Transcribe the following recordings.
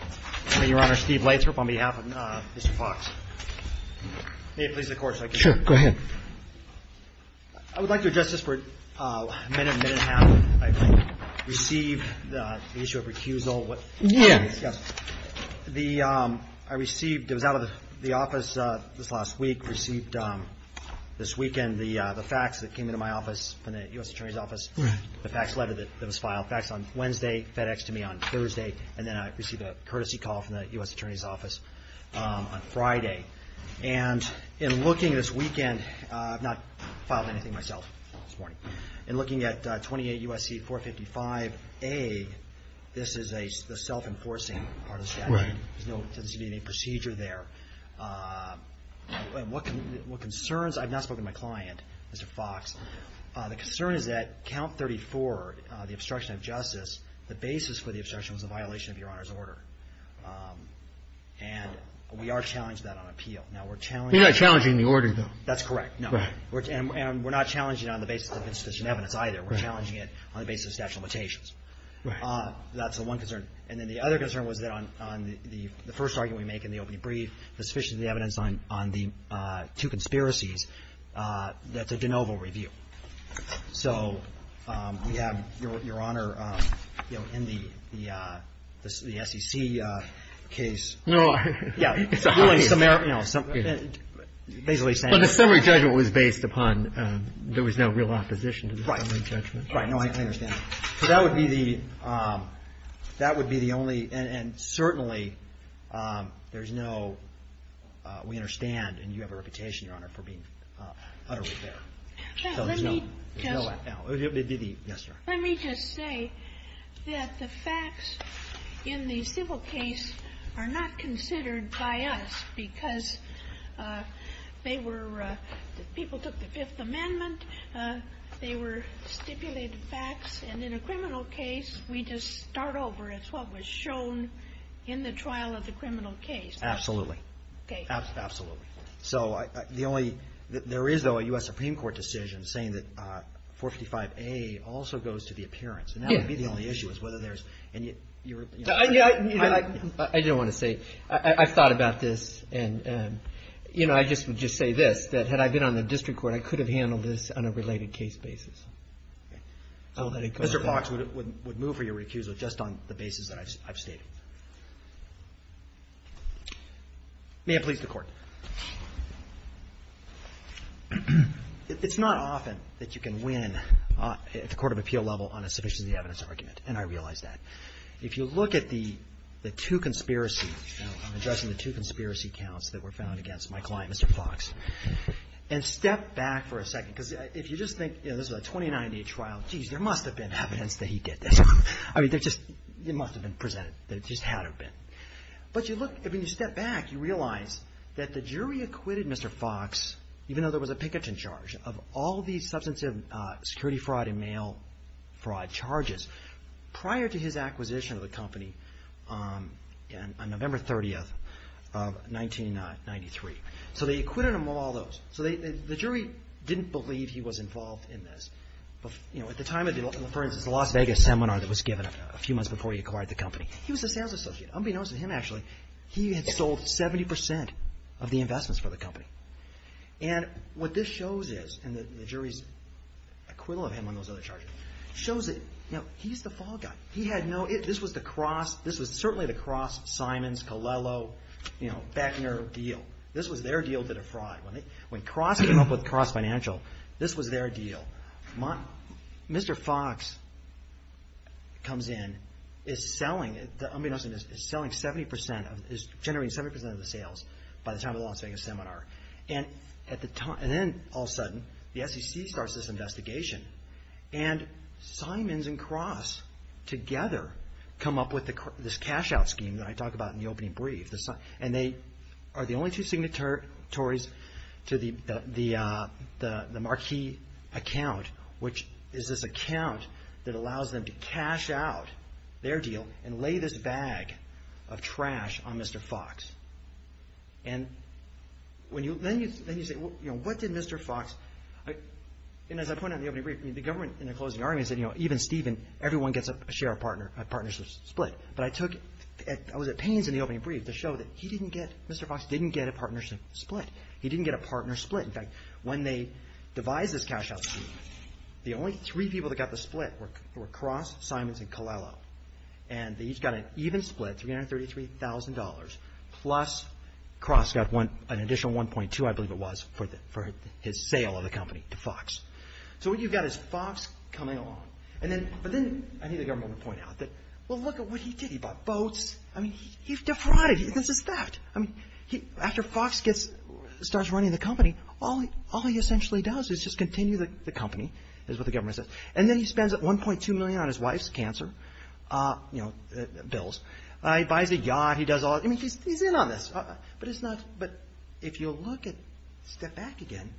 I would like to address this for a minute, minute and a half. I received the issue of recusal. It was out of the office this last week. I received this weekend the fax that came into my office from the U.S. Attorney's Office, the fax letter that was filed. Fax I received a courtesy call from the U.S. Attorney's Office on Friday. And in looking at this weekend, I've not filed anything myself this morning. In looking at 28 U.S.C. 455A, this is a self-enforcing part of the statute. There's no procedure there. What concerns, I've not spoken to my client, Mr. Fox. The concern is that count 34, the obstruction of justice, the basis for the obstruction was a violation of Your Honor's order. And we are challenged to that on appeal. Now, we're challenged You're not challenging the order, though. That's correct. No. Right. And we're not challenging it on the basis of insufficient evidence either. Right. We're challenging it on the basis of statute of limitations. Right. That's the one concern. And then the other concern was that on the first argument we make in the opening brief, the sufficient evidence on the two conspiracies, that's a de novo review. So we have, Your Honor, you know, in the SEC case Well, I Yeah. It's a summary You know, basically saying But the summary judgment was based upon there was no real opposition to the summary judgment. Right. Right. No, I understand. So that would be the only, and certainly there's no, we understand, and you have a reputation, Your Honor, for being utterly there. Let me just No, no. Yes, Your Honor. Let me just say that the facts in the civil case are not considered by us because they were, people took the Fifth Amendment, they were stipulated facts, and in a criminal case we just start over. It's what was shown in the trial of the criminal case. Absolutely. Absolutely. So the only, there is, though, a U.S. Supreme Court decision saying that 455A also goes to the appearance, and that would be the only issue, is whether there's, and you're I don't want to say, I've thought about this, and, you know, I just would just say this, that had I been on the district court, I could have handled this on a related case basis. Mr. Fox would move for your recusal just on the basis that I've stated. May I please to the court? It's not often that you can win at the court of appeal level on a submission of the evidence argument, and I realize that. If you look at the two conspiracy, you know, I'm addressing the two conspiracy counts that were found against my client, Mr. Fox, and step back for a second, because if you just think, you know, this was a 2098 trial, jeez, there must have been evidence that he did this. I mean, there just, it must have been presented, that it just had to have been. But you look, I mean, you step back, you realize that the jury acquitted Mr. Fox, even though there was a picketing charge, of all these substantive security fraud and mail fraud charges prior to his acquisition of the company on November 30th of 1993. So they acquitted him of all those. So the jury didn't believe he was involved in this. You know, at the time of the, for the Las Vegas seminar that was given a few months before he acquired the company, he was a sales associate. Unbeknownst to him, actually, he had sold 70% of the investments for the company. And what this shows is, and the jury's acquittal of him on those other charges, shows that, you know, he's the fall guy. He had no, this was the cross, this was certainly the cross Simons, Colello, you know, Beckner deal. This was their deal to defraud. When Cross came up with this, comes in, is selling, unbeknownst to him, is selling 70%, is generating 70% of the sales by the time of the Las Vegas seminar. And at the time, and then all sudden, the SEC starts this investigation. And Simons and Cross together come up with this cash-out scheme that I talk about in the opening brief. And they are the only two signatories to the Marquis account, which is this scheme that allows them to cash out their deal and lay this bag of trash on Mr. Fox. And when you, then you, then you say, well, you know, what did Mr. Fox, and as I pointed out in the opening brief, I mean, the government in their closing argument said, you know, even Steven, everyone gets a share of partner, a partnership split. But I took, I was at pains in the opening brief to show that he didn't get, Mr. Fox didn't get a partnership split. He didn't get a partner split. In fact, when they devised this cash-out scheme, the only three people that got the split were Cross, Simons, and Colello. And they each got an even split, $333,000, plus Cross got one, an additional 1.2, I believe it was, for the, for his sale of the company to Fox. So what you've got is Fox coming along. And then, but then I need the government to point out that, well, look at what he did. He bought boats. I mean, he defrauded. This is theft. I mean, he, after Fox gets, starts running the company, all he, all he essentially does is just continue the company, is what the million on his wife's cancer, you know, bills. He buys a yacht. He does all, I mean, he's in on this. But it's not, but if you look at, step back again,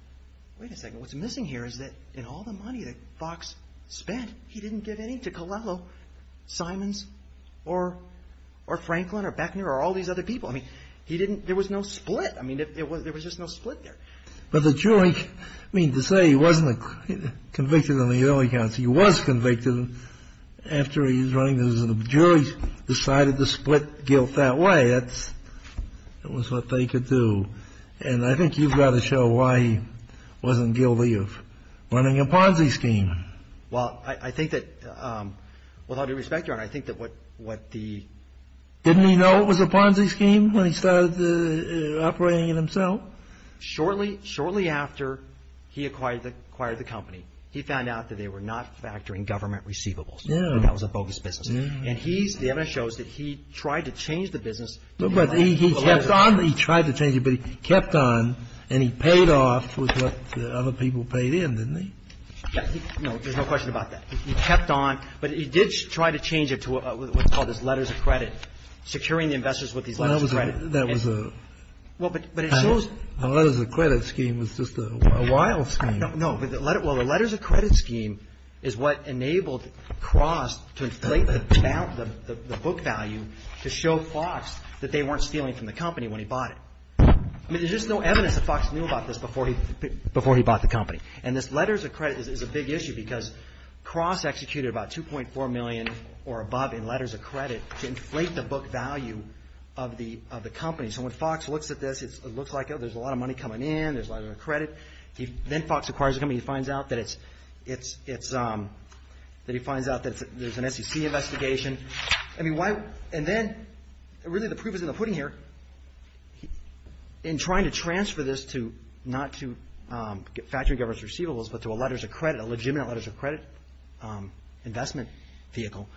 wait a second, what's missing here is that in all the money that Fox spent, he didn't give any to Colello, Simons, or, or Franklin, or Beckner, or all these other people. I mean, he didn't, there was no split. I mean, it was, there was just no split there. But the jury, I mean, to say he wasn't convicted on the early counts, he was convicted after he was running, the jury decided to split guilt that way. That's, that was what they could do. And I think you've got to show why he wasn't guilty of running a Ponzi scheme. Well, I think that, with all due respect, Your Honor, I think that what, what the Didn't he know it was a Ponzi scheme when he started operating it himself? Shortly, shortly after he acquired the, acquired the company, he found out that they were not factoring government receivables. Yeah. And that was a bogus business. Yeah. And he's, the evidence shows that he tried to change the business. But he, he kept on, he tried to change it, but he kept on and he paid off with what other people paid in, didn't he? Yeah. No, there's no question about that. He kept on, but he did try to change it to what's called this letters of credit, securing the investors with these letters of credit. Well, that was a, a letters of credit scheme was just a wild scheme. No, but the letter, well, the letters of credit scheme is what enabled Cross to inflate the, the book value to show Fox that they weren't stealing from the company when he bought it. I mean, there's just no evidence that Fox knew about this before he, before he bought the company. And this letters of credit is a big issue because Cross executed about 2.4 million or above in letters of credit to inflate the book value of the, of the company. So when Fox looks at this, it's, it looks like there's a lot of money coming in. There's a lot of credit. He, then Fox acquires the company. He finds out that it's, it's, it's that he finds out that there's an SEC investigation. I mean, why, and then really the proof is in the pudding here. In trying to transfer this to not to get factory governance receivables, but to a letters of credit, a legitimate letters of credit investment vehicle,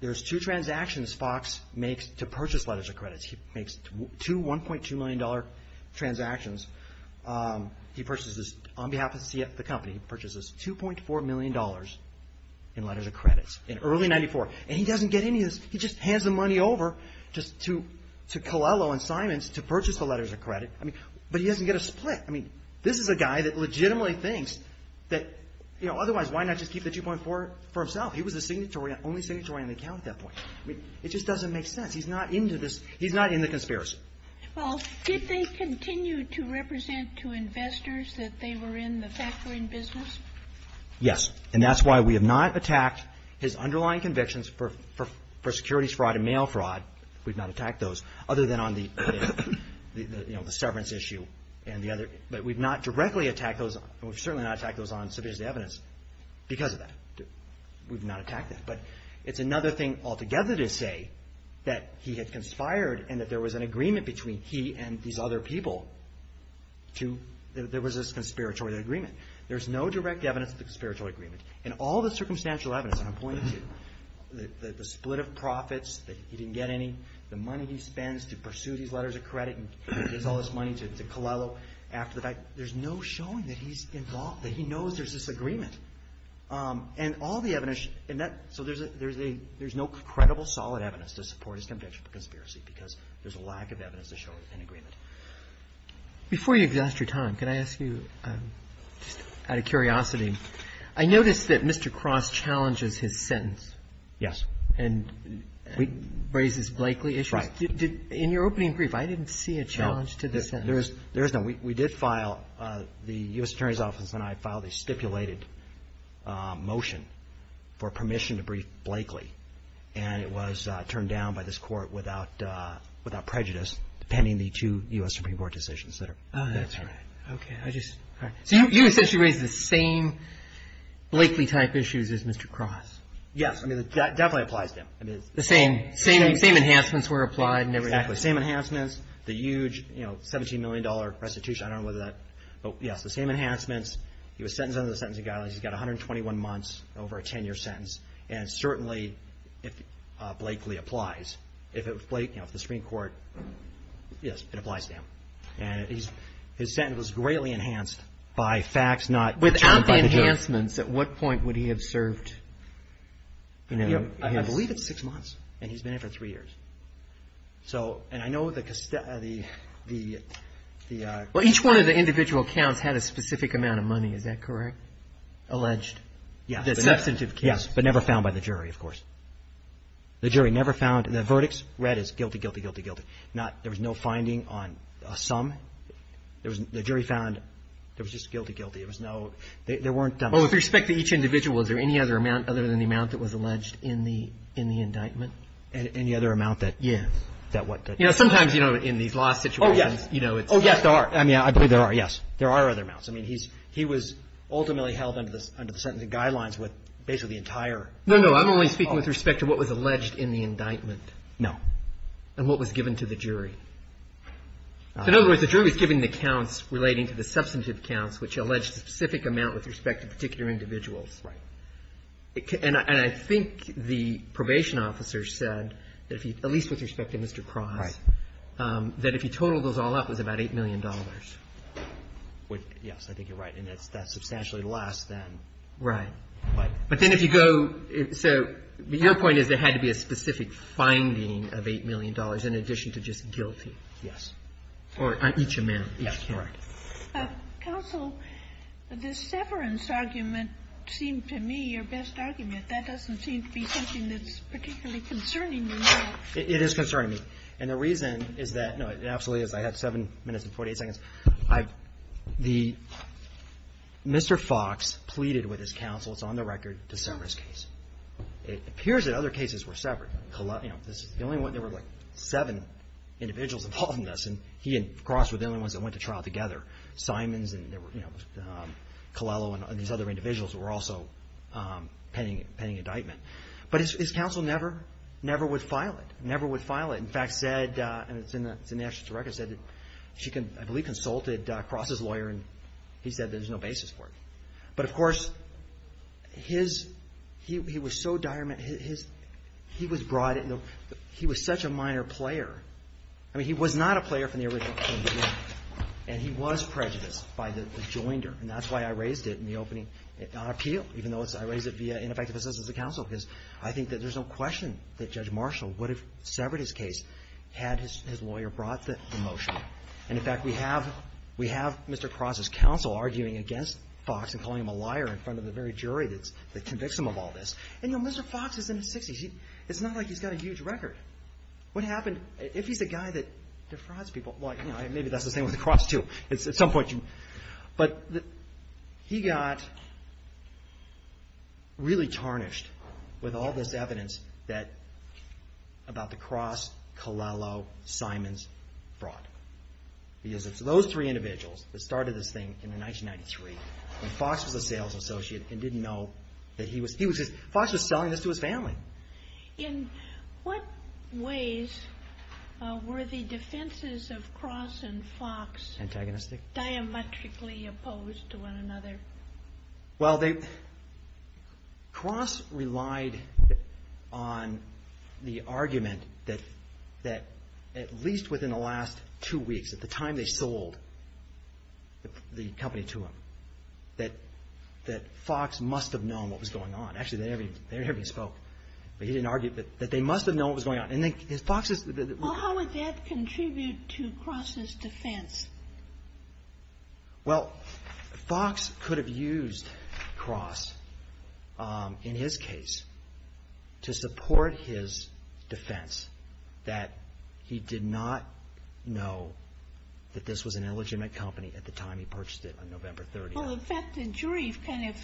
there's two transactions Fox makes to purchase letters of credits. He makes two, $1.2 million transactions. He purchases on behalf of the company, he purchases $2.4 million in letters of credits in early 94. And he doesn't get any of this. He just hands the money over just to, to Colello and Simons to purchase the letters of credit. I mean, but he doesn't get a split. I mean, this is a guy that legitimately thinks that, you know, otherwise why not just keep the 2.4 for himself? He was the signatory, only signatory on the account at that point. I mean, it just doesn't make sense. He's not into this. He's not in the conspiracy. Well, did they continue to represent to investors that they were in the factory business? Yes. And that's why we have not attacked his underlying convictions for, for, for securities fraud and mail fraud. We've not attacked those other than on the, you know, the severance issue and the other, but we've not directly attacked those. And we've certainly not attacked those on civility evidence because of that. We've not attacked that, but it's another thing altogether to say that he had expired and that there was an agreement between he and these other people to, that there was this conspiratorial agreement. There's no direct evidence of the conspiratorial agreement and all the circumstantial evidence that I'm pointing to, the split of profits, that he didn't get any, the money he spends to pursue these letters of credit and gives all this money to Coelho after the fact, there's no showing that he's involved, that he knows there's this agreement. And all the evidence, and that, so there's a, there's a, there's no credible solid evidence to support his conviction for conspiracy because there's a lack of evidence to show there's an agreement. Before you exhaust your time, can I ask you, just out of curiosity, I noticed that Mr. Cross challenges his sentence. Yes. And raises Blakeley issues. Right. Did, did, in your opening brief, I didn't see a challenge to the sentence. There is, there is no. We, we did file, the U.S. Attorney's Office and I filed a stipulated motion for permission to brief Blakeley and it was turned down by this court without, without prejudice, depending on the two U.S. Supreme Court decisions that are. Oh, that's right. Okay. I just, all right. So you essentially raised the same Blakeley type issues as Mr. Cross. Yes. I mean, that definitely applies to him. I mean, it's. The same, same, same enhancements were applied and everything. Exactly. The same enhancements, the huge, you know, $17 million restitution. I don't know whether that, but yes, the same enhancements. He was sentenced under the Sentencing Guidelines. He's got 121 months over a 10 year sentence. And certainly if Blakeley applies, if it was Blake, you know, if the Supreme Court, yes, it applies to him. And he's, his sentence was greatly enhanced by facts, not. Without the enhancements, at what point would he have served? You know, I believe it's six months and he's been in for three years. So, and I know the, the, the, the. Well, each one of the individual counts had a specific amount of money. Is that correct? Alleged. Yeah. That's substantive case. But never found by the jury, of course. The jury never found, the verdicts read as guilty, guilty, guilty, guilty. Not, there was no finding on a sum. There was, the jury found there was just guilty, guilty. It was no, there weren't. Well, with respect to each individual, is there any other amount other than the amount that was alleged in the, in the indictment? Any other amount that. Yeah. That what. You know, sometimes, you know, in these law situations, you know, it's. Oh yes, there are. I mean, I believe there are. Yes. There are other amounts. I mean, he's, he was ultimately held under the, under the sentencing guidelines with basically the entire. No, no. I'm only speaking with respect to what was alleged in the indictment. No. And what was given to the jury. In other words, the jury was given the counts relating to the substantive counts, which alleged a specific amount with respect to particular individuals. Right. And I think the probation officer said that if he, at least with respect to Mr. Cross. Right. That if he totaled those all up, it was about $8 million. With, yes, I think you're right. And that's, that's substantially less than. Right. But then if you go, so your point is there had to be a specific finding of $8 million in addition to just guilty. Yes. Or each amount. Yes. Correct. Counsel, the severance argument seemed to me your best argument. That doesn't seem to be something that's particularly concerning you. It is concerning me. And the reason is that, no, it absolutely is. I had seven minutes and 40 seconds. I've, the, Mr. Fox pleaded with his counsel, it's on the record, to sever his case. It appears that other cases were severed. You know, the only one, there were like seven individuals involved in this. And he and Cross were the only ones that went to trial together. Simons and there were, you know, Colello and these other individuals were also pending, pending indictment. But his counsel never, never would file it. Never would file it. In fact, said, and it's in the actual record, said that she can, I believe consulted Cross's lawyer and he said there's no basis for it. But of course, his, he was so dire, his, he was brought in, he was such a minor player. I mean, he was not a player from the original, and he was prejudiced by the joinder. And that's why I raised it in the opening, on appeal, even though it's, I raised it via ineffective assistance of counsel. Because I think that there's no question that Judge Marshall would have severed his case had his, his lawyer brought the motion. And in fact, we have, we have Mr. Cross's counsel arguing against Fox and calling him a liar in front of the very jury that's, that convicts him of all this. And you know, Mr. Fox is in his 60s. He, it's not like he's got a huge record. What happened, if he's a guy that defrauds people, well, you know, maybe that's the same with Cross too. At some point you, but he got really tarnished with all this evidence that, about the Cross, Colello, Simons fraud. Because it's those three individuals that started this thing in 1993 when Fox was a sales associate and didn't know that he was, he was, Fox was selling this to his family. In what ways were the defenses of Cross and Fox diametrically opposed to one another? Well, they, Cross relied on the argument that, that at least within the last two weeks, at the time they sold the company to him, that, that Fox must have known what was going on. Actually, they never even, they never even spoke, but he didn't argue that, that they must have known what was going on. And then Fox's... Well, how would that contribute to Cross's defense? Well, Fox could have used Cross, in his case, to support his defense that he did not know that this was an illegitimate company at the time he purchased it on November 30th. Well, in fact, the jury kind of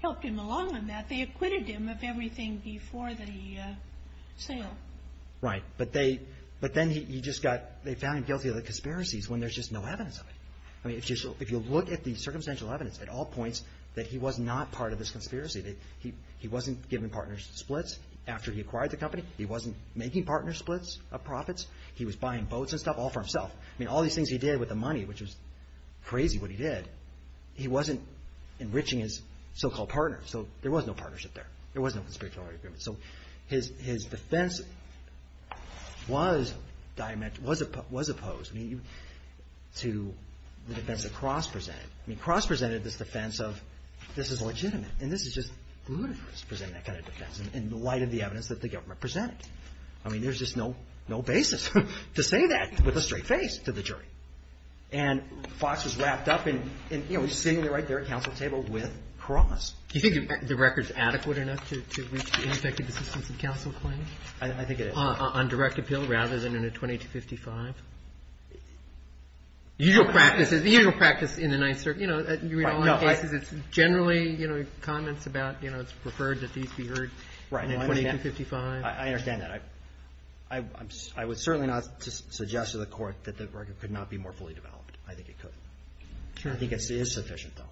helped him along on that. They acquitted him of everything before the sale. Right. But they, but then he just got, they found him guilty of the conspiracies when there's just no evidence of it. I mean, if you, if you look at the circumstantial evidence at all points that he was not part of this conspiracy, that he, he wasn't giving partners splits after he acquired the company. He wasn't making partner splits of profits. He was buying boats and stuff all for himself. I mean, all these things he did with the money, which was crazy what he did. He wasn't enriching his so-called partner. So there was no partnership there. There was no conspiratorial agreement. So his defense was opposed to the defense that Cross presented. I mean, Cross presented this defense of, this is legitimate. And this is just ludicrous, presenting that kind of defense in light of the evidence that the government presented. I mean, there's just no basis to say that with a straight face to the jury. And Fox was wrapped up in, you know, sitting right there at counsel table with Cross. Do you think the record's adequate enough to reach the ineffective assistance in counsel claim? I think it is. On direct appeal rather than in a 20 to 55? Usual practices, the usual practice in the Ninth Circuit, you know, you read all the cases, it's generally, you know, comments about, you know, it's preferred that these be heard in a 20 to 55. I understand that. But I would certainly not suggest to the Court that the record could not be more fully developed. I think it could. I think it is sufficient, though.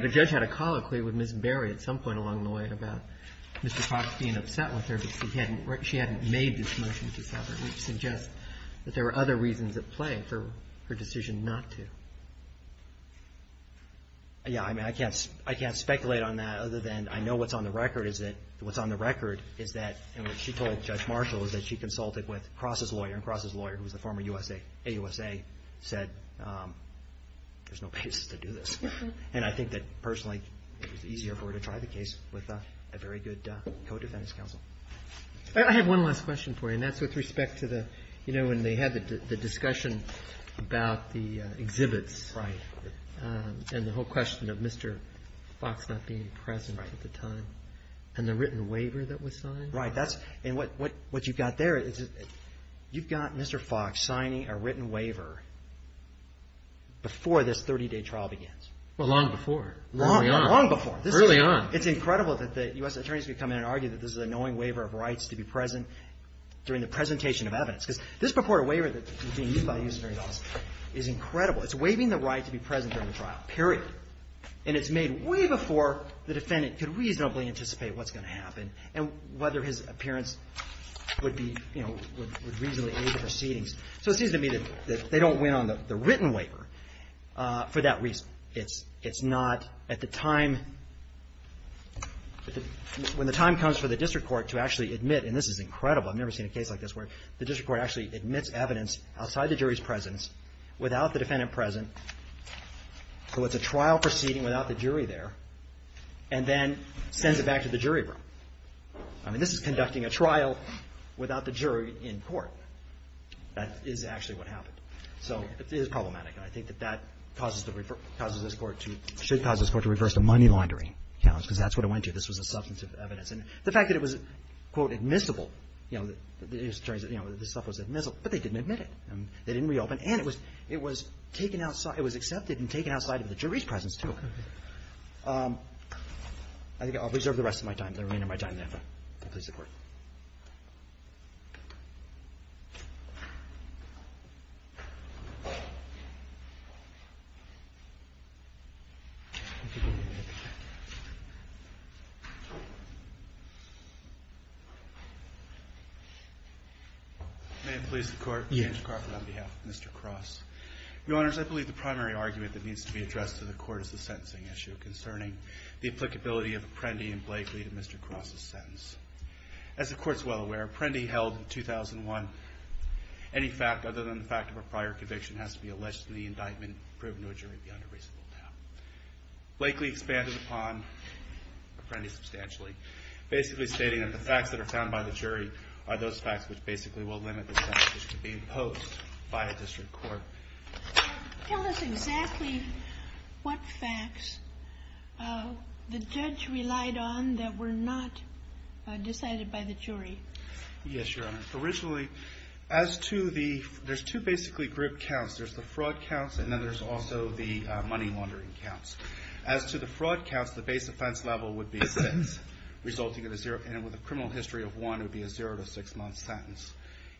The judge had a colloquy with Ms. Berry at some point along the way about Mr. Cross being upset with her, but she hadn't made this motion to separate. It would suggest that there were other reasons at play for her decision not to. Yeah, I mean, I can't speculate on that other than I know what's on the record is that what's on the record is that, and what she told the judge, Marshall, is that she consulted with Cross's lawyer, and Cross's lawyer, who was a former USA, AUSA, said, there's no basis to do this. And I think that, personally, it was easier for her to try the case with a very good co-defendant's counsel. I have one last question for you, and that's with respect to the, you know, when they had the discussion about the exhibits. Right. And the whole question of Mr. Fox not being present at the time and the written waiver that was signed. Right. That's, and what, what, what you've got there is you've got Mr. Fox signing a written waiver before this 30-day trial begins. Well, long before. Long, long before. Early on. It's incredible that the U.S. attorneys could come in and argue that this is a knowing waiver of rights to be present during the presentation of evidence. Because this purported waiver that was being used by the U.S. Attorney's Office is incredible. It's waiving the right to be present during the trial, period. And it's made way before the defendant could reasonably anticipate what's going to happen. And whether his appearance would be, you know, would reasonably aid the proceedings. So it seems to me that they don't win on the written waiver for that reason. It's, it's not at the time, when the time comes for the district court to actually admit, and this is incredible. I've never seen a case like this where the district court actually admits evidence outside the jury's presence without the defendant present. So it's a trial proceeding without the jury there, and then sends it back to the jury room. I mean, this is conducting a trial without the jury in court. That is actually what happened. So it is problematic. And I think that that causes the, causes this court to, should cause this court to reverse the money laundering challenge. Because that's what it went to. This was a substantive evidence. And the fact that it was, quote, admissible, you know, the attorneys, you know, this stuff was admissible, but they didn't admit it. And they didn't reopen. And it was, it was taken outside, it was accepted and taken outside of the jury's presence, too. I think I'll reserve the rest of my time, the remainder of my time there, if that pleases the Court. May it please the Court? Yes. Mr. Crawford on behalf of Mr. Cross. Your Honors, I believe the primary argument that needs to be addressed to the Court is the sentencing issue concerning the applicability of Apprendi and Blakely to Mr. Cross's sentence. As the Court's well aware, Apprendi held in 2001, any fact other than the fact of a prior conviction has to be alleged in the indictment and proven to a jury beyond a reasonable doubt. Blakely expanded upon Apprendi substantially, basically stating that the facts that are found by the jury are those facts which basically will limit the sentence which could be imposed by a district court. Tell us exactly what facts the judge relied on that were not decided by the jury. Yes, Your Honor. Originally, as to the, there's two basically group counts. There's the fraud counts and then there's also the money laundering counts. As to the fraud counts, the base offense level would be six, resulting in a zero, and with a criminal history of one, it would be a zero to six month sentence.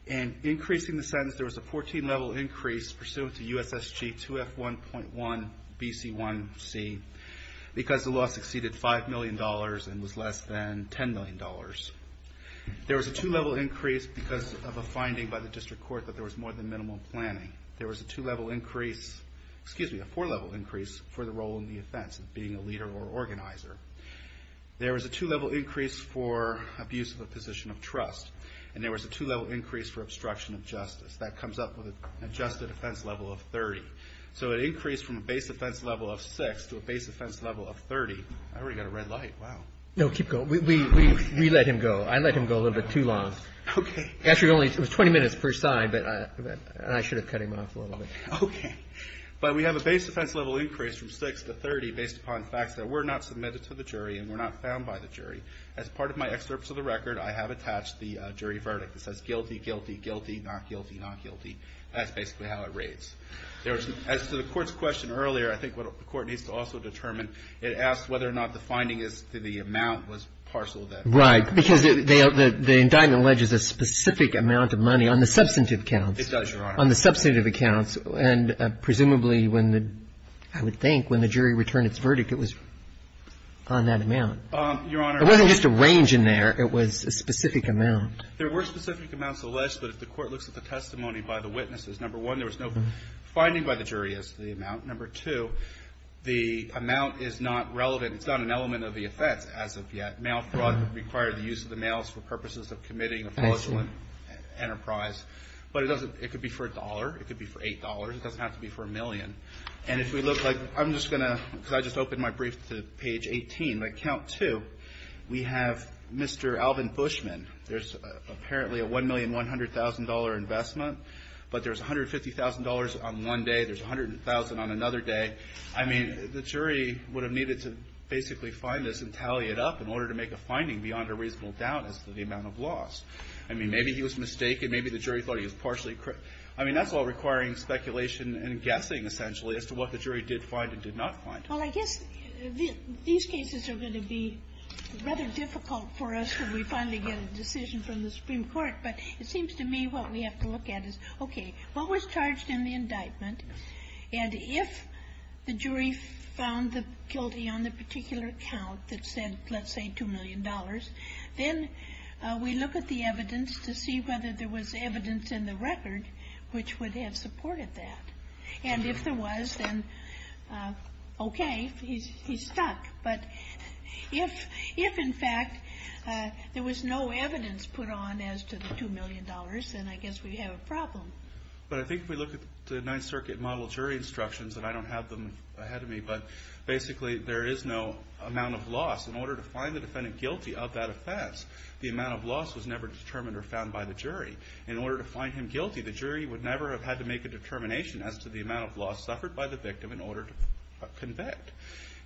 And increasing the sentence, there was a 14 level increase pursuant to USSG 2F1.1BC1C because the law succeeded $5 million and was less than $10 million. There was a two level increase because of a finding by the district court that there was more than minimal planning. There was a two level increase, excuse me, a four level increase for the role in the offense of being a leader or organizer. There was a two level increase for abuse of a position of trust. And there was a two level increase for obstruction of justice. That comes up with an adjusted offense level of 30. So an increase from a base offense level of six to a base offense level of 30. I already got a red light. Wow. No, keep going. We let him go. I let him go a little bit too long. Okay. Actually, it was only 20 minutes per side, but I should have cut him off a little bit. Okay. But we have a base offense level increase from six to 30 based upon facts that were not submitted to the jury and were not found by the jury. As part of my excerpts of the record, I have attached the jury verdict that says guilty, guilty, guilty, not guilty, not guilty. That's basically how it rates. There was, as to the court's question earlier, I think what the court needs to also determine, it asks whether or not the finding is that the amount was parcel of that. Right. Because the indictment alleges a specific amount of money on the substantive accounts. It does, Your Honor. On the substantive accounts. And presumably when the, I would think when the jury returned its verdict, it was on that amount. Your Honor. It wasn't just a range in there. It was a specific amount. There were specific amounts alleged, but if the court looks at the testimony by the witnesses, number one, there was no finding by the jury as to the amount. Number two, the amount is not relevant. It's not an element of the offense as of yet. Mail fraud would require the use of the mails for purposes of committing a fraudulent enterprise. But it doesn't, it could be for a dollar. It could be for $8. It doesn't have to be for a million. And if we look like, I'm just going to, because I just opened my brief to page 18. By count two, we have Mr. Alvin Bushman. There's apparently a $1,100,000 investment, but there's $150,000 on one day. There's $100,000 on another day. I mean, the jury would have needed to basically find this and tally it up in order to make a finding beyond a reasonable doubt as to the amount of loss. I mean, maybe he was mistaken. Maybe the jury thought he was partially. I mean, that's all requiring speculation and guessing, essentially, as to what the jury did find and did not find. Well, I guess these cases are going to be rather difficult for us when we finally get a decision from the Supreme Court. But it seems to me what we have to look at is, okay, what was charged in the indictment? And if the jury found the guilty on the particular count that said, let's say, $2 million, then we look at the evidence to see whether there was evidence in the record. Which would have supported that. And if there was, then, okay, he's stuck. But if, in fact, there was no evidence put on as to the $2 million, then I guess we have a problem. But I think if we look at the Ninth Circuit model jury instructions, and I don't have them ahead of me, but basically there is no amount of loss. In order to find the defendant guilty of that offense, the amount of loss was never determined or found by the jury. In order to find him guilty, the jury would never have had to make a determination as to the amount of loss suffered by the victim in order to convict.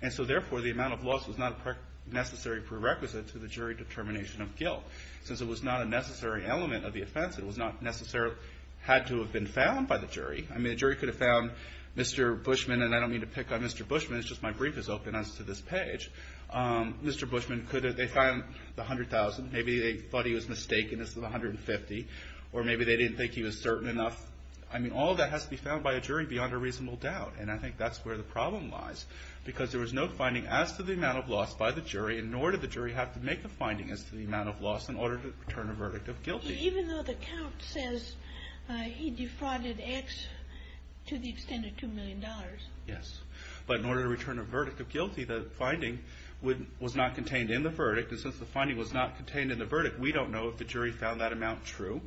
And so, therefore, the amount of loss was not a necessary prerequisite to the jury determination of guilt. Since it was not a necessary element of the offense, it was not necessarily had to have been found by the jury. I mean, a jury could have found Mr. Bushman, and I don't mean to pick on Mr. Bushman, it's just my brief has opened us to this page. Mr. Bushman could have, they found the $100,000. Maybe they thought he was mistaken as the $150,000, or maybe they didn't think he was certain enough. I mean, all that has to be found by a jury beyond a reasonable doubt, and I think that's where the problem lies. Because there was no finding as to the amount of loss by the jury, nor did the jury have to make a finding as to the amount of loss in order to return a verdict of guilty. Even though the count says he defrauded X to the extent of $2 million. Yes, but in order to return a verdict of guilty, the finding was not contained in the verdict. And since the finding was not contained in the verdict, we don't know if the jury found that amount true,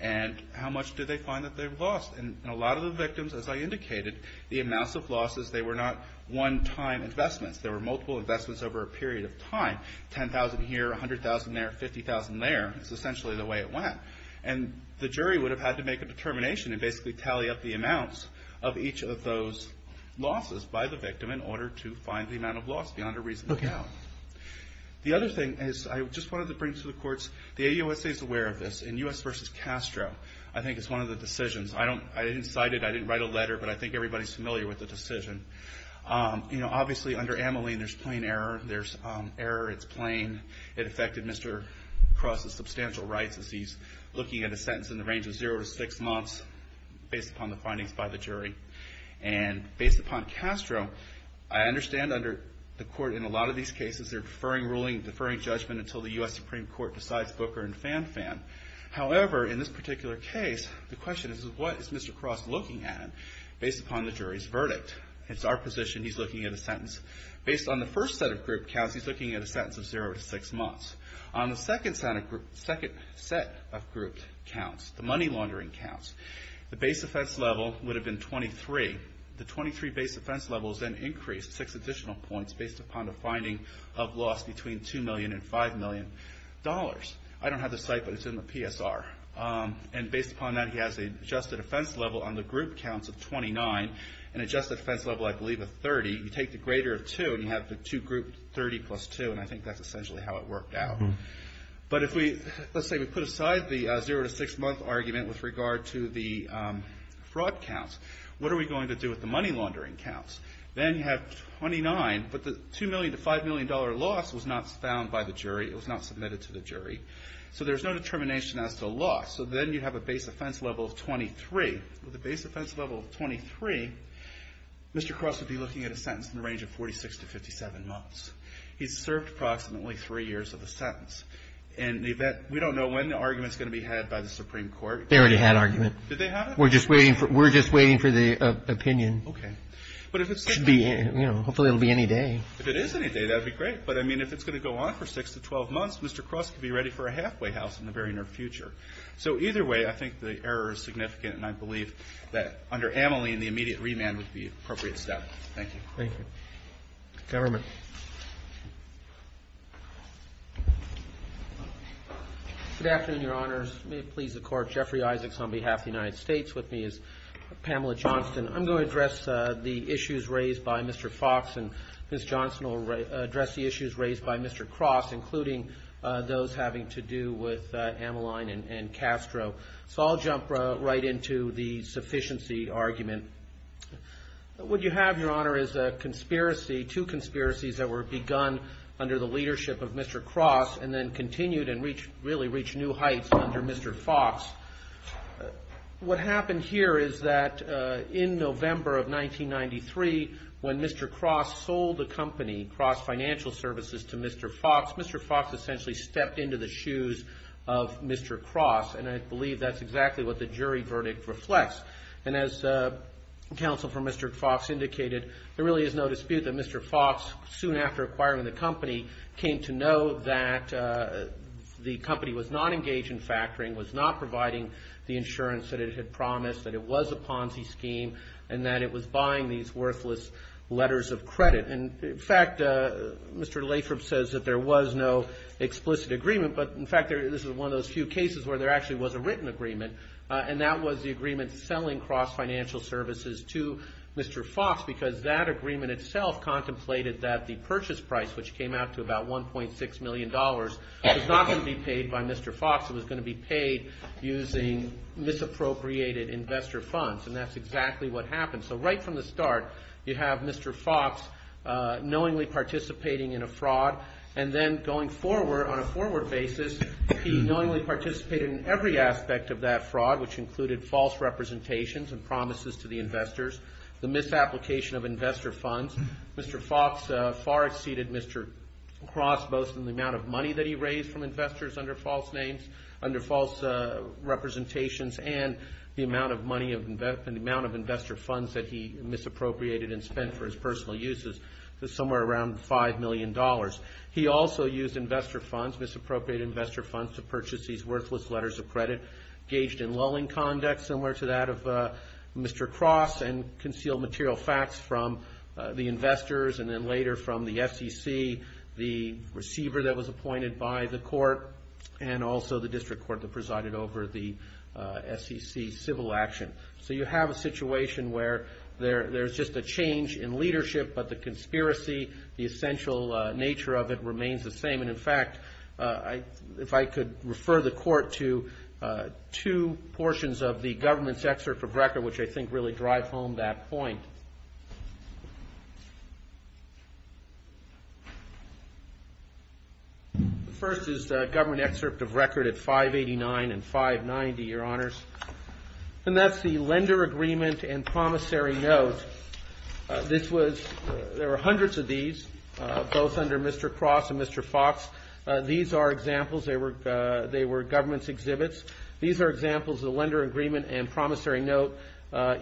and how much did they find that they've lost. And a lot of the victims, as I indicated, the amounts of losses, they were not one-time investments. There were multiple investments over a period of time. $10,000 here, $100,000 there, $50,000 there, is essentially the way it went. And the jury would have had to make a determination and basically tally up the amounts of each of those losses by the victim in order to find the amount of loss beyond a reasonable doubt. The other thing is, I just wanted to bring to the courts, the AUSA is aware of this, and U.S. v. Castro, I think, is one of the decisions. I didn't cite it, I didn't write a letter, but I think everybody's familiar with the decision. You know, obviously under Ameline, there's plain error, there's error, it's plain. It affected Mr. Cross's substantial rights as he's looking at a sentence in the range of zero to six months based upon the findings by the jury. And based upon Castro, I understand under the court in a lot of these cases, they're deferring ruling, deferring judgment until the U.S. Supreme Court decides Booker and Fanfan. However, in this particular case, the question is, what is Mr. Cross looking at based upon the jury's verdict? It's our position he's looking at a sentence. Based on the first set of group counts, he's looking at a sentence of zero to six months. On the second set of group counts, the money laundering counts, the base offense level would have been 23. The 23 base offense levels then increased six additional points based upon the finding of loss between 2 million and 5 million dollars. I don't have the site, but it's in the PSR. And based upon that, he has adjusted offense level on the group counts of 29, and adjusted offense level, I believe, of 30. You take the greater of two, and you have the two grouped 30 plus two, and I think that's essentially how it worked out. But if we, let's say we put aside the zero to six month argument with regard to the fraud counts, what are we going to do with the money laundering counts? Then you have 29, but the 2 million to 5 million dollar loss was not found by the jury. It was not submitted to the jury. So there's no determination as to loss. So then you have a base offense level of 23. With a base offense level of 23, Mr. Cross would be looking at a sentence in the range of 46 to 57 months. He's served approximately three years of the sentence. In the event, we don't know when the argument's going to be had by the Supreme Court. They already had argument. Did they have it? We're just waiting for the opinion. Okay. But if it's going to be, you know, hopefully it'll be any day. If it is any day, that'd be great. But I mean, if it's going to go on for six to 12 months, Mr. Cross could be ready for a halfway house in the very near future. So either way, I think the error is significant, and I believe that under Amelie, the immediate remand would be the appropriate step. Thank you. Thank you. Government. Good afternoon, Your Honors. May it please the Court. Jeffrey Isaacs on behalf of the United States with me as Pamela Johnston. I'm going to address the issues raised by Mr. Fox, and Ms. Johnston will address the issues raised by Mr. Cross, including those having to do with Ameline and Castro. So I'll jump right into the sufficiency argument. What you have, Your Honor, is a conspiracy, two conspiracies that were begun under the leadership of Mr. Cross and then continued and really reached new heights under Mr. Fox. What happened here is that in November of 1993, when Mr. Cross sold the company, Cross Financial Services, to Mr. Fox, Mr. Fox essentially stepped into the shoes of Mr. Cross. And I believe that's exactly what the jury verdict reflects. And as counsel for Mr. Fox indicated, there really is no dispute that Mr. Fox, soon after acquiring the company, came to know that the company was not engaged in factoring, was not providing the insurance that it had promised, that it was a Ponzi scheme, and that it was buying these worthless letters of credit. And in fact, Mr. Lathrop says that there was no explicit agreement. But in fact, this is one of those few cases where there actually was a written agreement. And that was the agreement selling Cross Financial Services to Mr. Fox, because that agreement itself contemplated that the purchase price, which came out to about $1.6 million, was not going to be paid by Mr. Fox. It was going to be paid using misappropriated investor funds. And that's exactly what happened. So right from the start, you have Mr. Fox knowingly participating in a fraud. And then going forward, on a forward basis, he knowingly participated in every aspect of that fraud, which included false representations and promises to the investors, the misapplication of investor funds. Mr. Fox far exceeded Mr. Cross, both in the amount of money that he raised from investors under false names, under false representations, and the amount of investor funds that he misappropriated and spent for his personal uses. Somewhere around $5 million. He also used investor funds, misappropriated investor funds, to purchase these worthless letters of credit, gauged in lulling conduct, similar to that of Mr. Cross, and concealed material facts from the investors, and then later from the SEC, the receiver that was appointed by the court, and also the district court that presided over the SEC civil action. So you have a situation where there's just a change in leadership, but the conspiracy, the essential nature of it, remains the same. And in fact, if I could refer the court to two portions of the government's excerpt of record, which I think really drive home that point. The first is the government excerpt of record at 589 and 590, Your Honors. And that's the lender agreement and promissory note. This was, there were hundreds of these, both under Mr. Cross and Mr. Fox. These are examples, they were government's exhibits. These are examples of the lender agreement and promissory note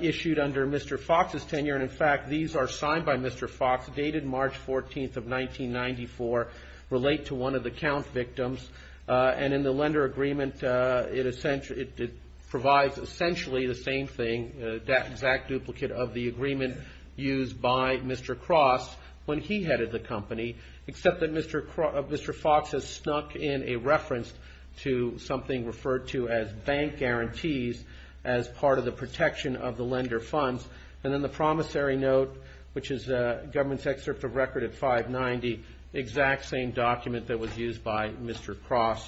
issued under Mr. Fox's tenure. And in fact, these are signed by Mr. Fox, dated March 14th of 1994, relate to one of the count victims. And in the lender agreement, it provides essentially the same thing, that exact duplicate of the agreement used by Mr. Cross when he headed the company, except that Mr. Fox has snuck in a reference to something referred to as bank guarantees as part of the protection of the lender funds. And then the promissory note, which is government's excerpt of record at 590, is the exact same document that was used by Mr. Cross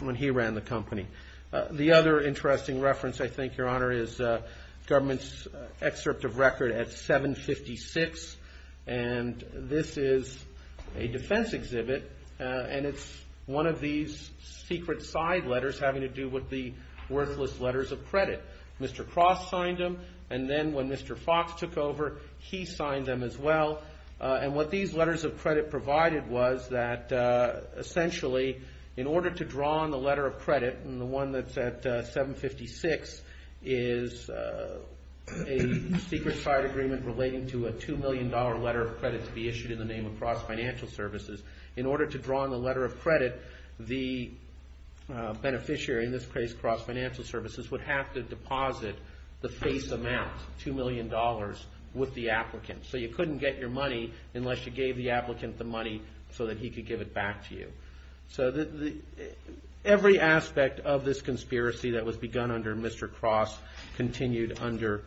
when he ran the company. The other interesting reference, I think, Your Honor, is government's excerpt of record at 756. And this is a defense exhibit, and it's one of these secret side letters having to do with the worthless letters of credit. Mr. Cross signed them, and then when Mr. Fox took over, he signed them as well. And what these letters of credit provided was that essentially, in order to draw on the letter of credit, and the one that's at 756 is a secret side agreement relating to a $2 million letter of credit to be issued in the name of Cross Financial Services. In order to draw on the letter of credit, the beneficiary, in this case Cross Financial Services, would have to deposit the face amount, $2 million, with the applicant. So you couldn't get your money unless you gave the applicant the money so that he could give it back to you. So every aspect of this conspiracy that was begun under Mr. Cross continued under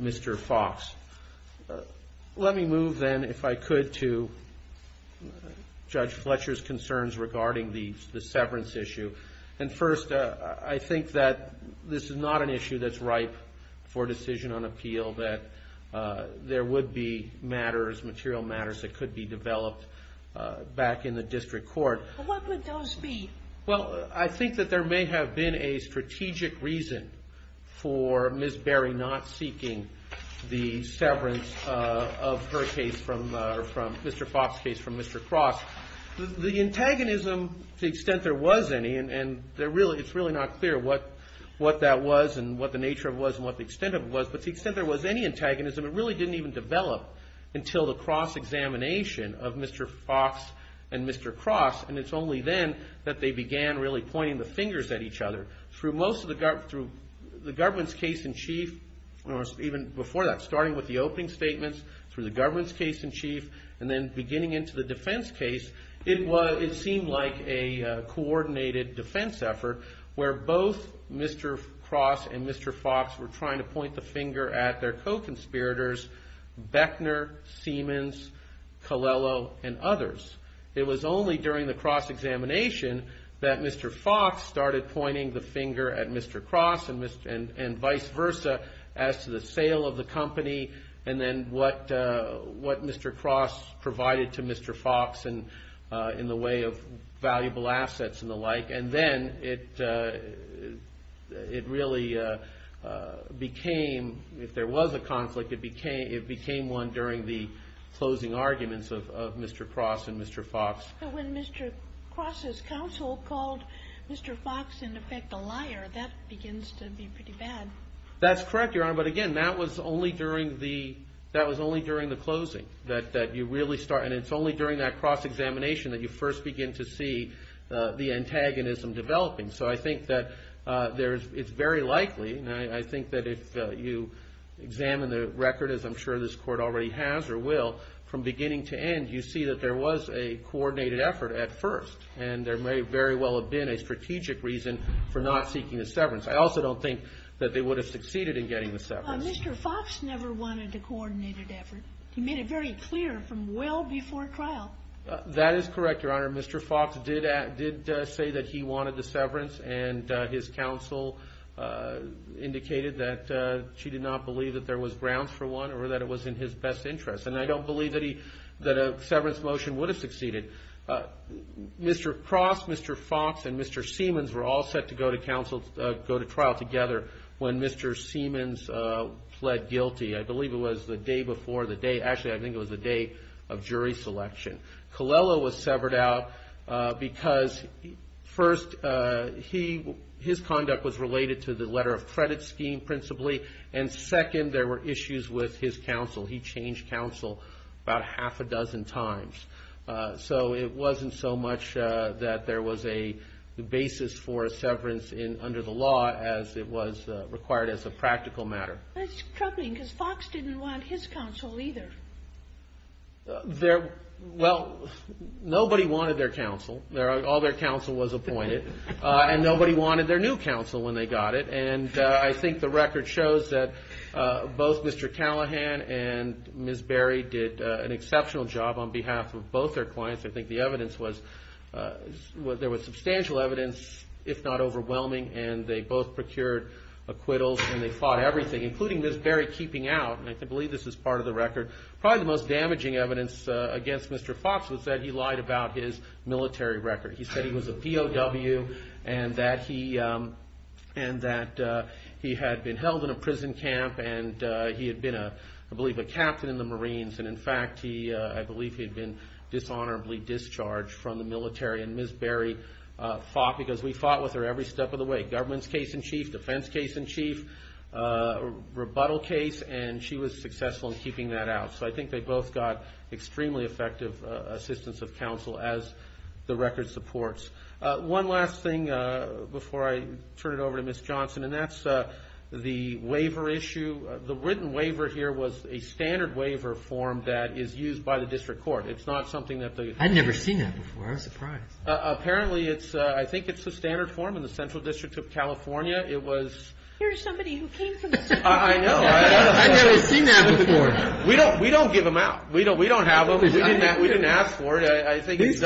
Mr. Fox. Let me move then, if I could, to Judge Fletcher's concerns regarding the severance issue. And first, I think that this is not an issue that's ripe for decision on appeal, that there would be matters, material matters, that could be developed back in the district court. But what would those be? Well, I think that there may have been a strategic reason for Ms. Berry not seeking the severance of her case, or from Mr. Fox's case, from Mr. Cross. The antagonism, to the extent there was any, and it's really not clear what that was and what the nature of it was and what the extent of it was, but to the extent there was any antagonism, it really didn't even develop until the cross-examination of Mr. Fox and Mr. Cross. And it's only then that they began really pointing the fingers at each other. Through the government's case in chief, or even before that, starting with the opening statements, through the government's case in chief, and then beginning into the defense case, it seemed like a coordinated defense effort where both Mr. Cross and Mr. Fox were trying to point the finger at their co-conspirators, Beckner, Siemens, Colello, and others. It was only during the cross-examination that Mr. Fox started pointing the finger at Mr. Cross and vice versa as to the sale of the company and then what Mr. Cross provided to Mr. Fox in the way of valuable assets and the like. And then it really became, if there was a conflict, it became one during the closing arguments of Mr. Cross and Mr. Fox. But when Mr. Cross' counsel called Mr. Fox, in effect, a liar, that begins to be pretty bad. That's correct, Your Honor, but again, that was only during the closing. That you really start, and it's only during that cross-examination that you first begin to see the antagonism developing. So I think that there's, it's very likely, and I think that if you examine the record, as I'm sure this Court already has or will, from beginning to end, you see that there was a coordinated effort at first. And there may very well have been a strategic reason for not seeking a severance. I also don't think that they would have succeeded in getting the severance. Mr. Fox never wanted a coordinated effort. He made it very clear from well before trial. That is correct, Your Honor. Mr. Fox did say that he wanted the severance and his counsel indicated that she did not believe that there was grounds for one or that it was in his best interest. And I don't believe that a severance motion would have succeeded. Mr. Cross, Mr. Fox, and Mr. Siemens were all set to go to trial together when Mr. Siemens pled guilty. I believe it was the day before the day. Actually, I think it was the day of jury selection. Colella was severed out because first, his conduct was related to the letter of credit scheme principally. And second, there were issues with his counsel. He changed counsel about half a dozen times. So it wasn't so much that there was a basis for a severance under the law as it was required as a practical matter. That's troubling because Fox didn't want his counsel either. Well, nobody wanted their counsel. All their counsel was appointed. And nobody wanted their new counsel when they got it. And I think the record shows that both Mr. Callahan and Ms. Berry did an exceptional job on behalf of both their clients. I think the evidence was there was substantial evidence, if not overwhelming, and they both procured acquittals and they fought everything, including Ms. Berry keeping out. And I believe this is part of the record. Probably the most damaging evidence against Mr. Fox was that he lied about his military record. He said he was a POW and that he had been held in a prison camp and he had been, I believe, a captain in the Marines. And in fact, I believe he had been dishonorably discharged from the military. And Ms. Berry fought because we fought with her every step of the way. Governments case in chief, defense case in chief, rebuttal case, and she was successful in keeping that out. So I think they both got extremely effective assistance of counsel, as the record supports. One last thing before I turn it over to Ms. Johnson, and that's the waiver issue. The written waiver here was a standard waiver form that is used by the district court. It's not something that the- I've never seen that before. I'm surprised. Apparently, I think it's the standard form in the Central District of California. It was- Here's somebody who came from the Central District. I know. I've never seen that before. We don't give them out. We don't have them. We didn't ask for it. I think it's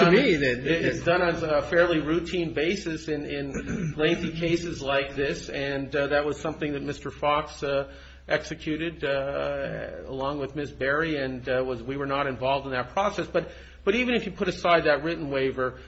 done on a fairly routine basis in lengthy cases like this. And that was something that Mr. Fox executed along with Ms. Berry, and we were not involved in that process. But even if you put aside that written waiver,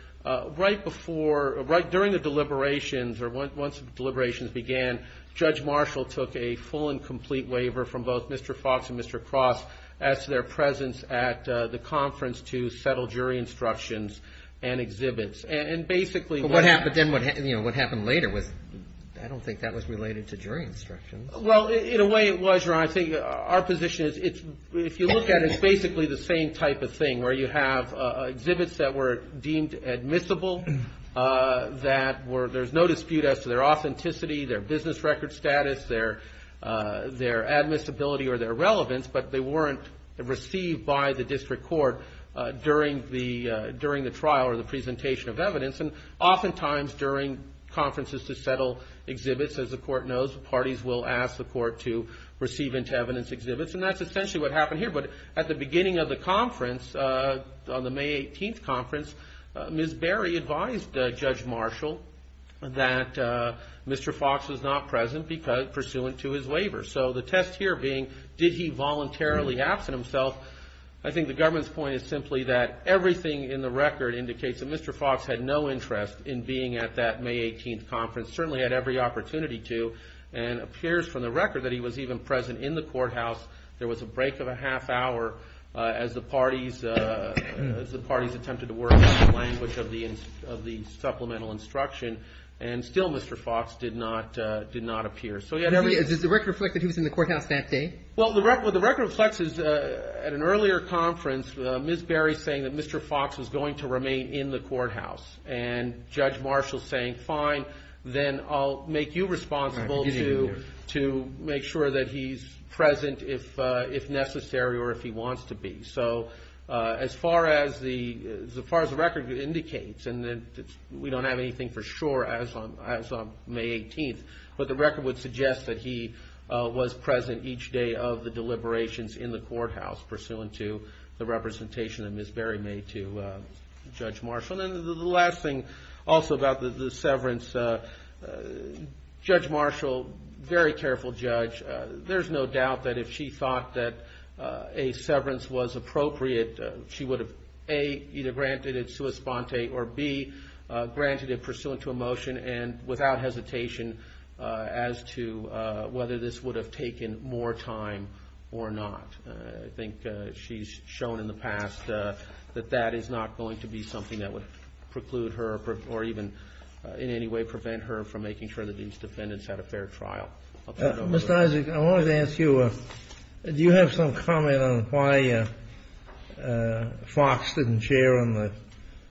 right before, right during the deliberations, or once deliberations began, Judge Marshall took a full and complete waiver from both Mr. Fox and Mr. Cross as to their presence at the conference to settle jury instructions and exhibits. And basically- But then what happened later was- I don't think that was related to jury instructions. Well, in a way it was, Your Honor. I think our position is if you look at it, it's basically the same type of thing, where you have exhibits that were deemed admissible, that were- their evidence record status, their admissibility or their relevance, but they weren't received by the district court during the trial or the presentation of evidence. And oftentimes during conferences to settle exhibits, as the court knows, the parties will ask the court to receive into evidence exhibits. And that's essentially what happened here. But at the beginning of the conference, on the May 18th conference, Ms. Berry advised Judge Marshall that Mr. Fox was not present pursuant to his waiver. So the test here being, did he voluntarily absent himself? I think the government's point is simply that everything in the record indicates that Mr. Fox had no interest in being at that May 18th conference, certainly had every opportunity to, and appears from the record that he was even present in the courthouse. There was a break of a half hour as the parties attempted to work on the language of the supplemental instruction. And still Mr. Fox did not appear. So you had every- Does the record reflect that he was in the courthouse that day? Well, the record reflects at an earlier conference, Ms. Berry saying that Mr. Fox was going to remain in the courthouse. And Judge Marshall saying, fine, then I'll make you responsible to make sure that he's present if necessary or if he wants to be. So as far as the record indicates, and we don't have anything for sure as of May 18th, but the record would suggest that he was present each day of the deliberations in the courthouse pursuant to the representation that Ms. Berry made to Judge Marshall. And then the last thing also about the severance, Judge Marshall, very careful judge, there's no doubt that if she thought that a severance was appropriate, she would have A, either granted it sua sponte or B, granted it pursuant to a motion and without hesitation as to whether this would have taken more time or not. I think she's shown in the past that that is not going to be something that would preclude her or even in any way prevent her from making sure that these defendants had a fair trial. Mr. Isaac, I wanted to ask you, do you have some comment on why Fox didn't share on the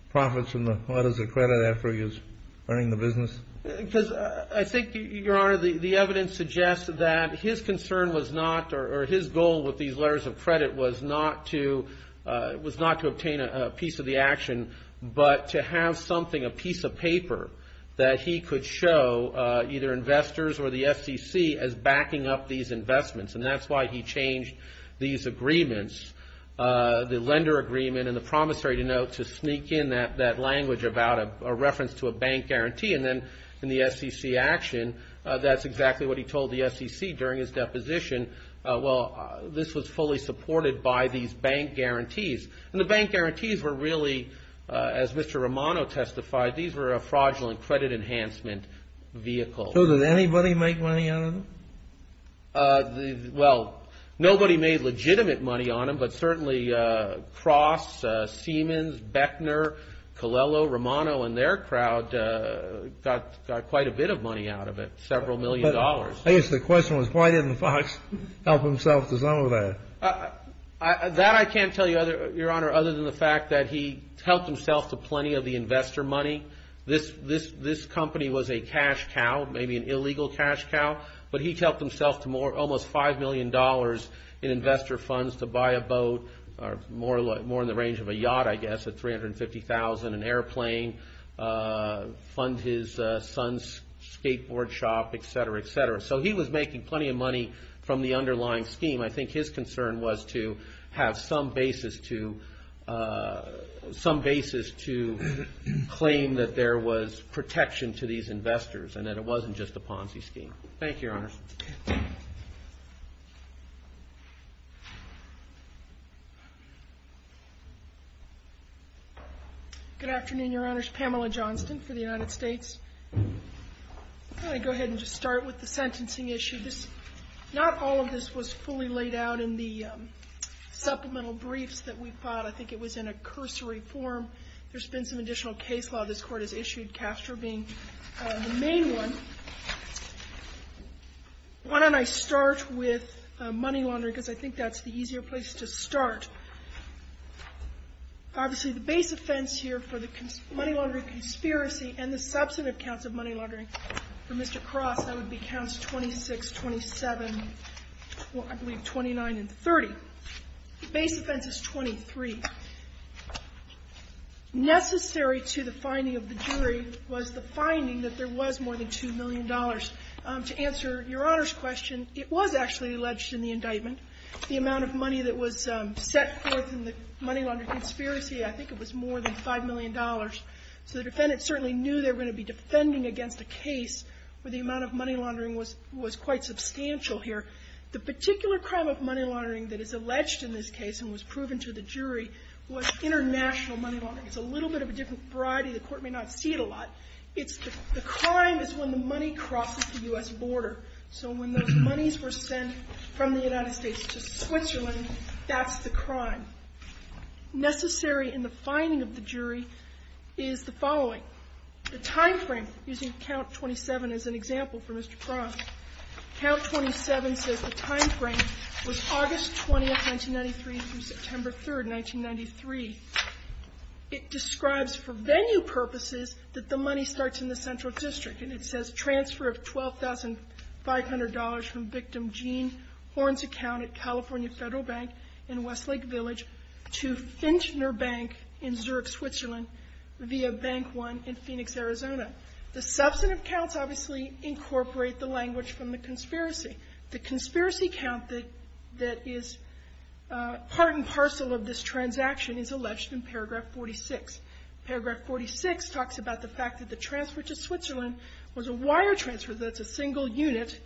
profits and the letters of credit after he was running the business? Because I think, Your Honor, the evidence suggests that his concern was not or his goal with these letters of credit was not to obtain a piece of the action, but to have something, a piece of paper that he could show either investors or the SEC as backing up these investments. And that's why he changed these agreements, the lender agreement and the promissory note, to sneak in that language about a reference to a bank guarantee. And then in the SEC action, that's exactly what he told the SEC during his deposition. Well, this was fully supported by these bank guarantees. And the bank guarantees were really, as Mr. Romano testified, these were a fraudulent credit enhancement vehicle. So did anybody make money out of them? Well, nobody made legitimate money on them, but certainly Cross, Siemens, Bechner, Colello, Romano and their crowd got quite a bit of money out of it, several million dollars. I guess the question was why didn't Fox help himself to some of that? That I can't tell you, Your Honor, other than the fact that he helped himself to plenty of the investor money. This company was a cash cow, maybe an illegal cash cow, but he helped himself to almost $5 million in investor funds to buy a boat, more in the range of a yacht, I guess, at $350,000, an airplane, fund his son's skateboard shop, etc., etc. So he was making plenty of money from the underlying scheme. I think his concern was to have some basis to claim that there was protection to these investors and that it wasn't just a Ponzi scheme. Thank you, Your Honors. Good afternoon, Your Honors. Pamela Johnston for the United States. I'm going to go ahead and just start with the sentencing issue. Not all of this was fully laid out in the supplemental briefs that we filed. I think it was in a cursory form. There's been some additional case law this Court has issued, Castro being the main one. Why don't I start with money laundering because I think that's the easier place to start. Obviously, the base offense here for the money laundering conspiracy and the substantive counts of money laundering for Mr. Cross, that would be counts 26, 27, I believe 29 and 30. The base offense is 23. Necessary to the finding of the jury was the finding that there was more than $2 million. To answer Your Honor's question, it was actually alleged in the indictment the amount of money that was set forth in the money laundering conspiracy, I think it was more than $5 million. So the defendant certainly knew they were going to be defending against a case where the amount of money laundering was quite substantial here. The particular crime of money laundering that is alleged in this case and was proven to the jury was international money laundering. It's a little bit of a different variety. The Court may not see it a lot. It's the crime is when the money crosses the U.S. border. So when those monies were sent from the United States to Switzerland, that's the crime. Necessary in the finding of the jury is the following. The timeframe, using count 27 as an example for Mr. Cross, count 27 says the timeframe was August 20th, 1993 through September 3rd, 1993. It describes for venue purposes that the money starts in the central district. And it says transfer of $12,500 from victim Gene Horn's account at California Federal Bank in Westlake Village to Finchner Bank in Zurich, Switzerland, via Bank One in Phoenix, Arizona. The substantive counts obviously incorporate the language from the conspiracy. The conspiracy count that is part and parcel of this transaction is alleged in paragraph 46. Paragraph 46 talks about the fact that the transfer to Switzerland was a wire transfer. That's a single unit,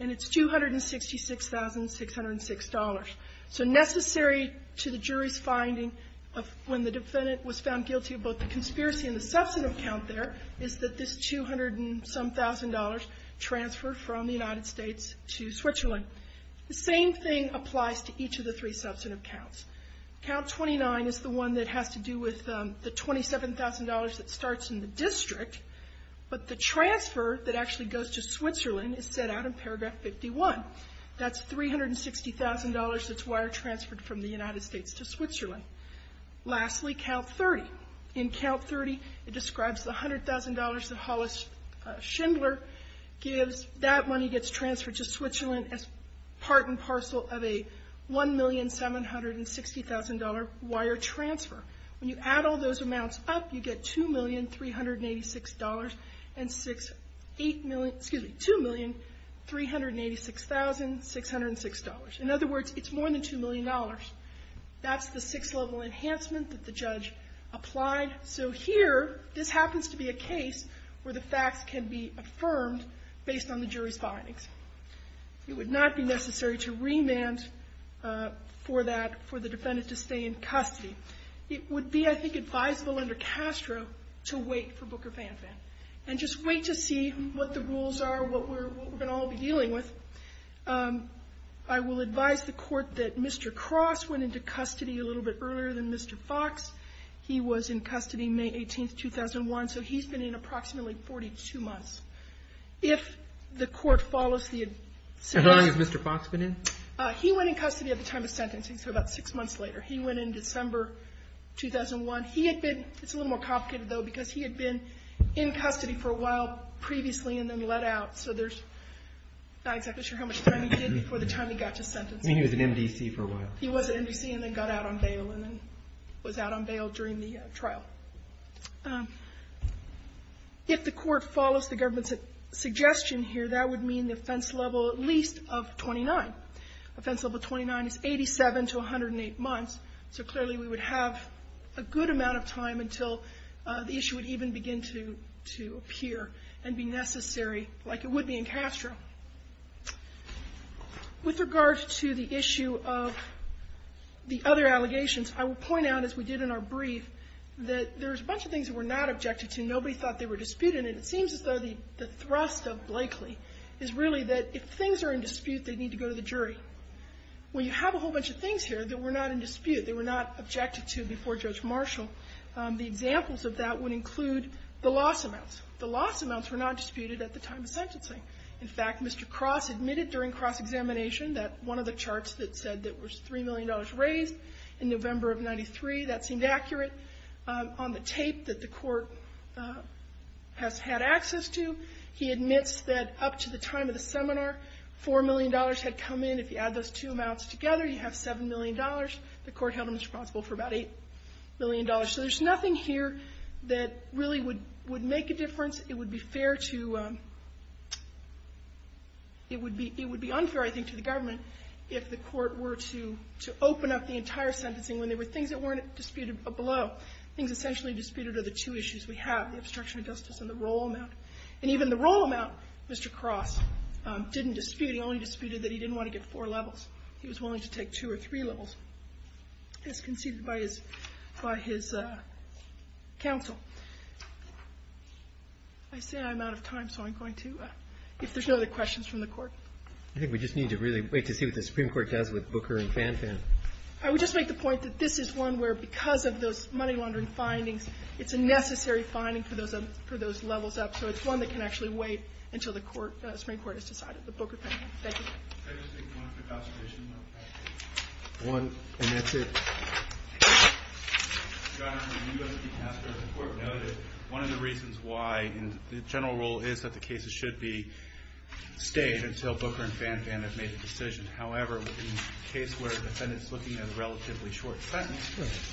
and it's $266,606. So necessary to the jury's finding of when the defendant was found guilty of both the conspiracy and the substantive count there is that this $200-and-some-thousand transfer from the United States to Switzerland. The same thing applies to each of the three substantive counts. Count 29 is the one that has to do with the $27,000 that starts in the district. But the transfer that actually goes to Switzerland is set out in paragraph 51. That's $360,000 that's wire transferred from the United States to Switzerland. Lastly, count 30. In count 30, it describes the $100,000 that Hollis Schindler gives. That money gets transferred to Switzerland as part and parcel of a $1,760,000 wire transfer. When you add all those amounts up, you get $2,386,606. In other words, it's more than $2 million. That's the six-level enhancement that the judge applied. So here, this happens to be a case where the facts can be affirmed based on the jury's findings. It would not be necessary to remand for that for the defendant to stay in custody. It would be, I think, advisable under Castro to wait for Booker Fanfan and just wait to see what the rules are, what we're going to all be dealing with. I will advise the Court that Mr. Cross went into custody a little bit earlier than Mr. Foxx. He was in custody May 18, 2001, so he's been in approximately 42 months. If the Court follows the suggestion of Mr. Foxx. How long has Mr. Foxx been in? He went in custody at the time of sentencing, so about six months later. He went in December 2001. He had been – it's a little more complicated, though, because he had been in custody for a while previously and then let out, so there's not exactly sure how much time he did before the time he got to sentencing. I mean, he was in MDC for a while. He was in MDC and then got out on bail and then was out on bail during the trial. If the Court follows the government's suggestion here, that would mean the offense level at least of 29. Offense level 29 is 87 to 108 months, so clearly we would have a good amount of time until the issue would even begin to appear and be necessary like it would be in Castro. With regard to the issue of the other allegations, I will point out, as we did in our brief, that there's a bunch of things that were not objected to. Nobody thought they were disputed, and it seems as though the thrust of Blakely is really that if things are in dispute, they need to go to the jury. We have a whole bunch of things here that were not in dispute, that were not objected to before Judge Marshall. The examples of that would include the loss amounts. The loss amounts were not disputed at the time of sentencing. In fact, Mr. Cross admitted during cross-examination that one of the charts that said that was $3 million raised in November of 93, that seemed accurate. On the tape that the court has had access to, he admits that up to the time of the seminar, $4 million had come in. If you add those two amounts together, you have $7 million. The court held him responsible for about $8 million. So there's nothing here that really would make a difference. It would be unfair, I think, to the government if the court were to open up the entire I think we just need to really wait to see what the Supreme Court does with Booker and Fanfan. I would just make the point that this is one where, because of those money-laundering findings, it's a necessary finding for those levels up. So it's one that can actually wait until the Supreme Court has decided, the Booker and Fanfan. Thank you. Can I just make one quick observation? One, and that's it. Your Honor, the U.S. Supreme Court has noted one of the reasons why the general rule is that the cases should be stayed until Booker and Fanfan have made a decision. However, in the case where the defendant is looking at a relatively short sentence,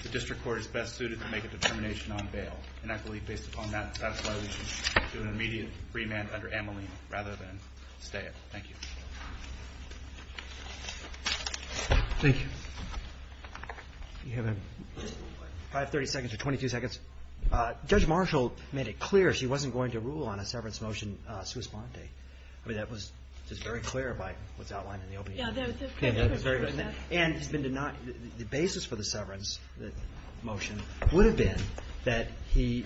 the district court is best suited to make a determination on bail. And I believe based upon that, that's why we should do an immediate remand under Ameline rather than stay it. Thank you. Thank you. You have five, 30 seconds or 22 seconds. Judge Marshall made it clear she wasn't going to rule on a severance motion sui sponte. I mean, that was just very clear by what's outlined in the opening statement. Yeah, that was very clear. And it's been denied. The basis for the severance motion would have been that he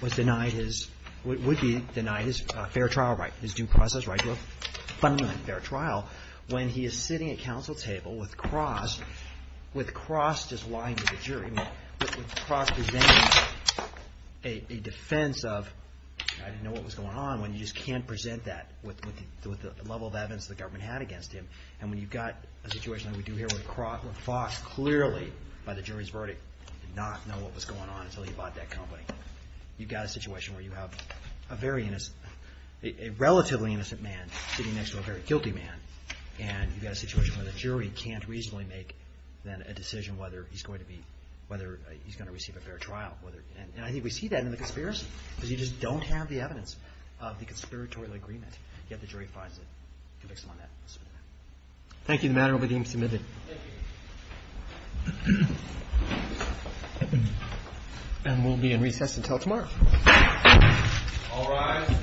was denied his – would be denied his fair trial right, his due process right to appeal. But in the fair trial, when he is sitting at counsel table with Cross, with Cross just lying to the jury, with Cross presenting a defense of, I didn't know what was going on, when you just can't present that with the level of evidence the government had against him. And when you've got a situation like we do here with Cross, where Fox clearly, by the jury's verdict, did not know what was going on until he bought that company. You've got a situation where you have a very innocent – a relatively innocent man sitting next to a very guilty man. And you've got a situation where the jury can't reasonably make then a decision whether he's going to be – whether he's going to receive a fair trial, whether – and I think we see that in the conspiracy, because you just don't have the evidence of the conspiratorial agreement. Yet the jury finds it. Convicts him on that. Thank you. The matter will be deemed submitted. Thank you. And we'll be in recess until tomorrow. All rise.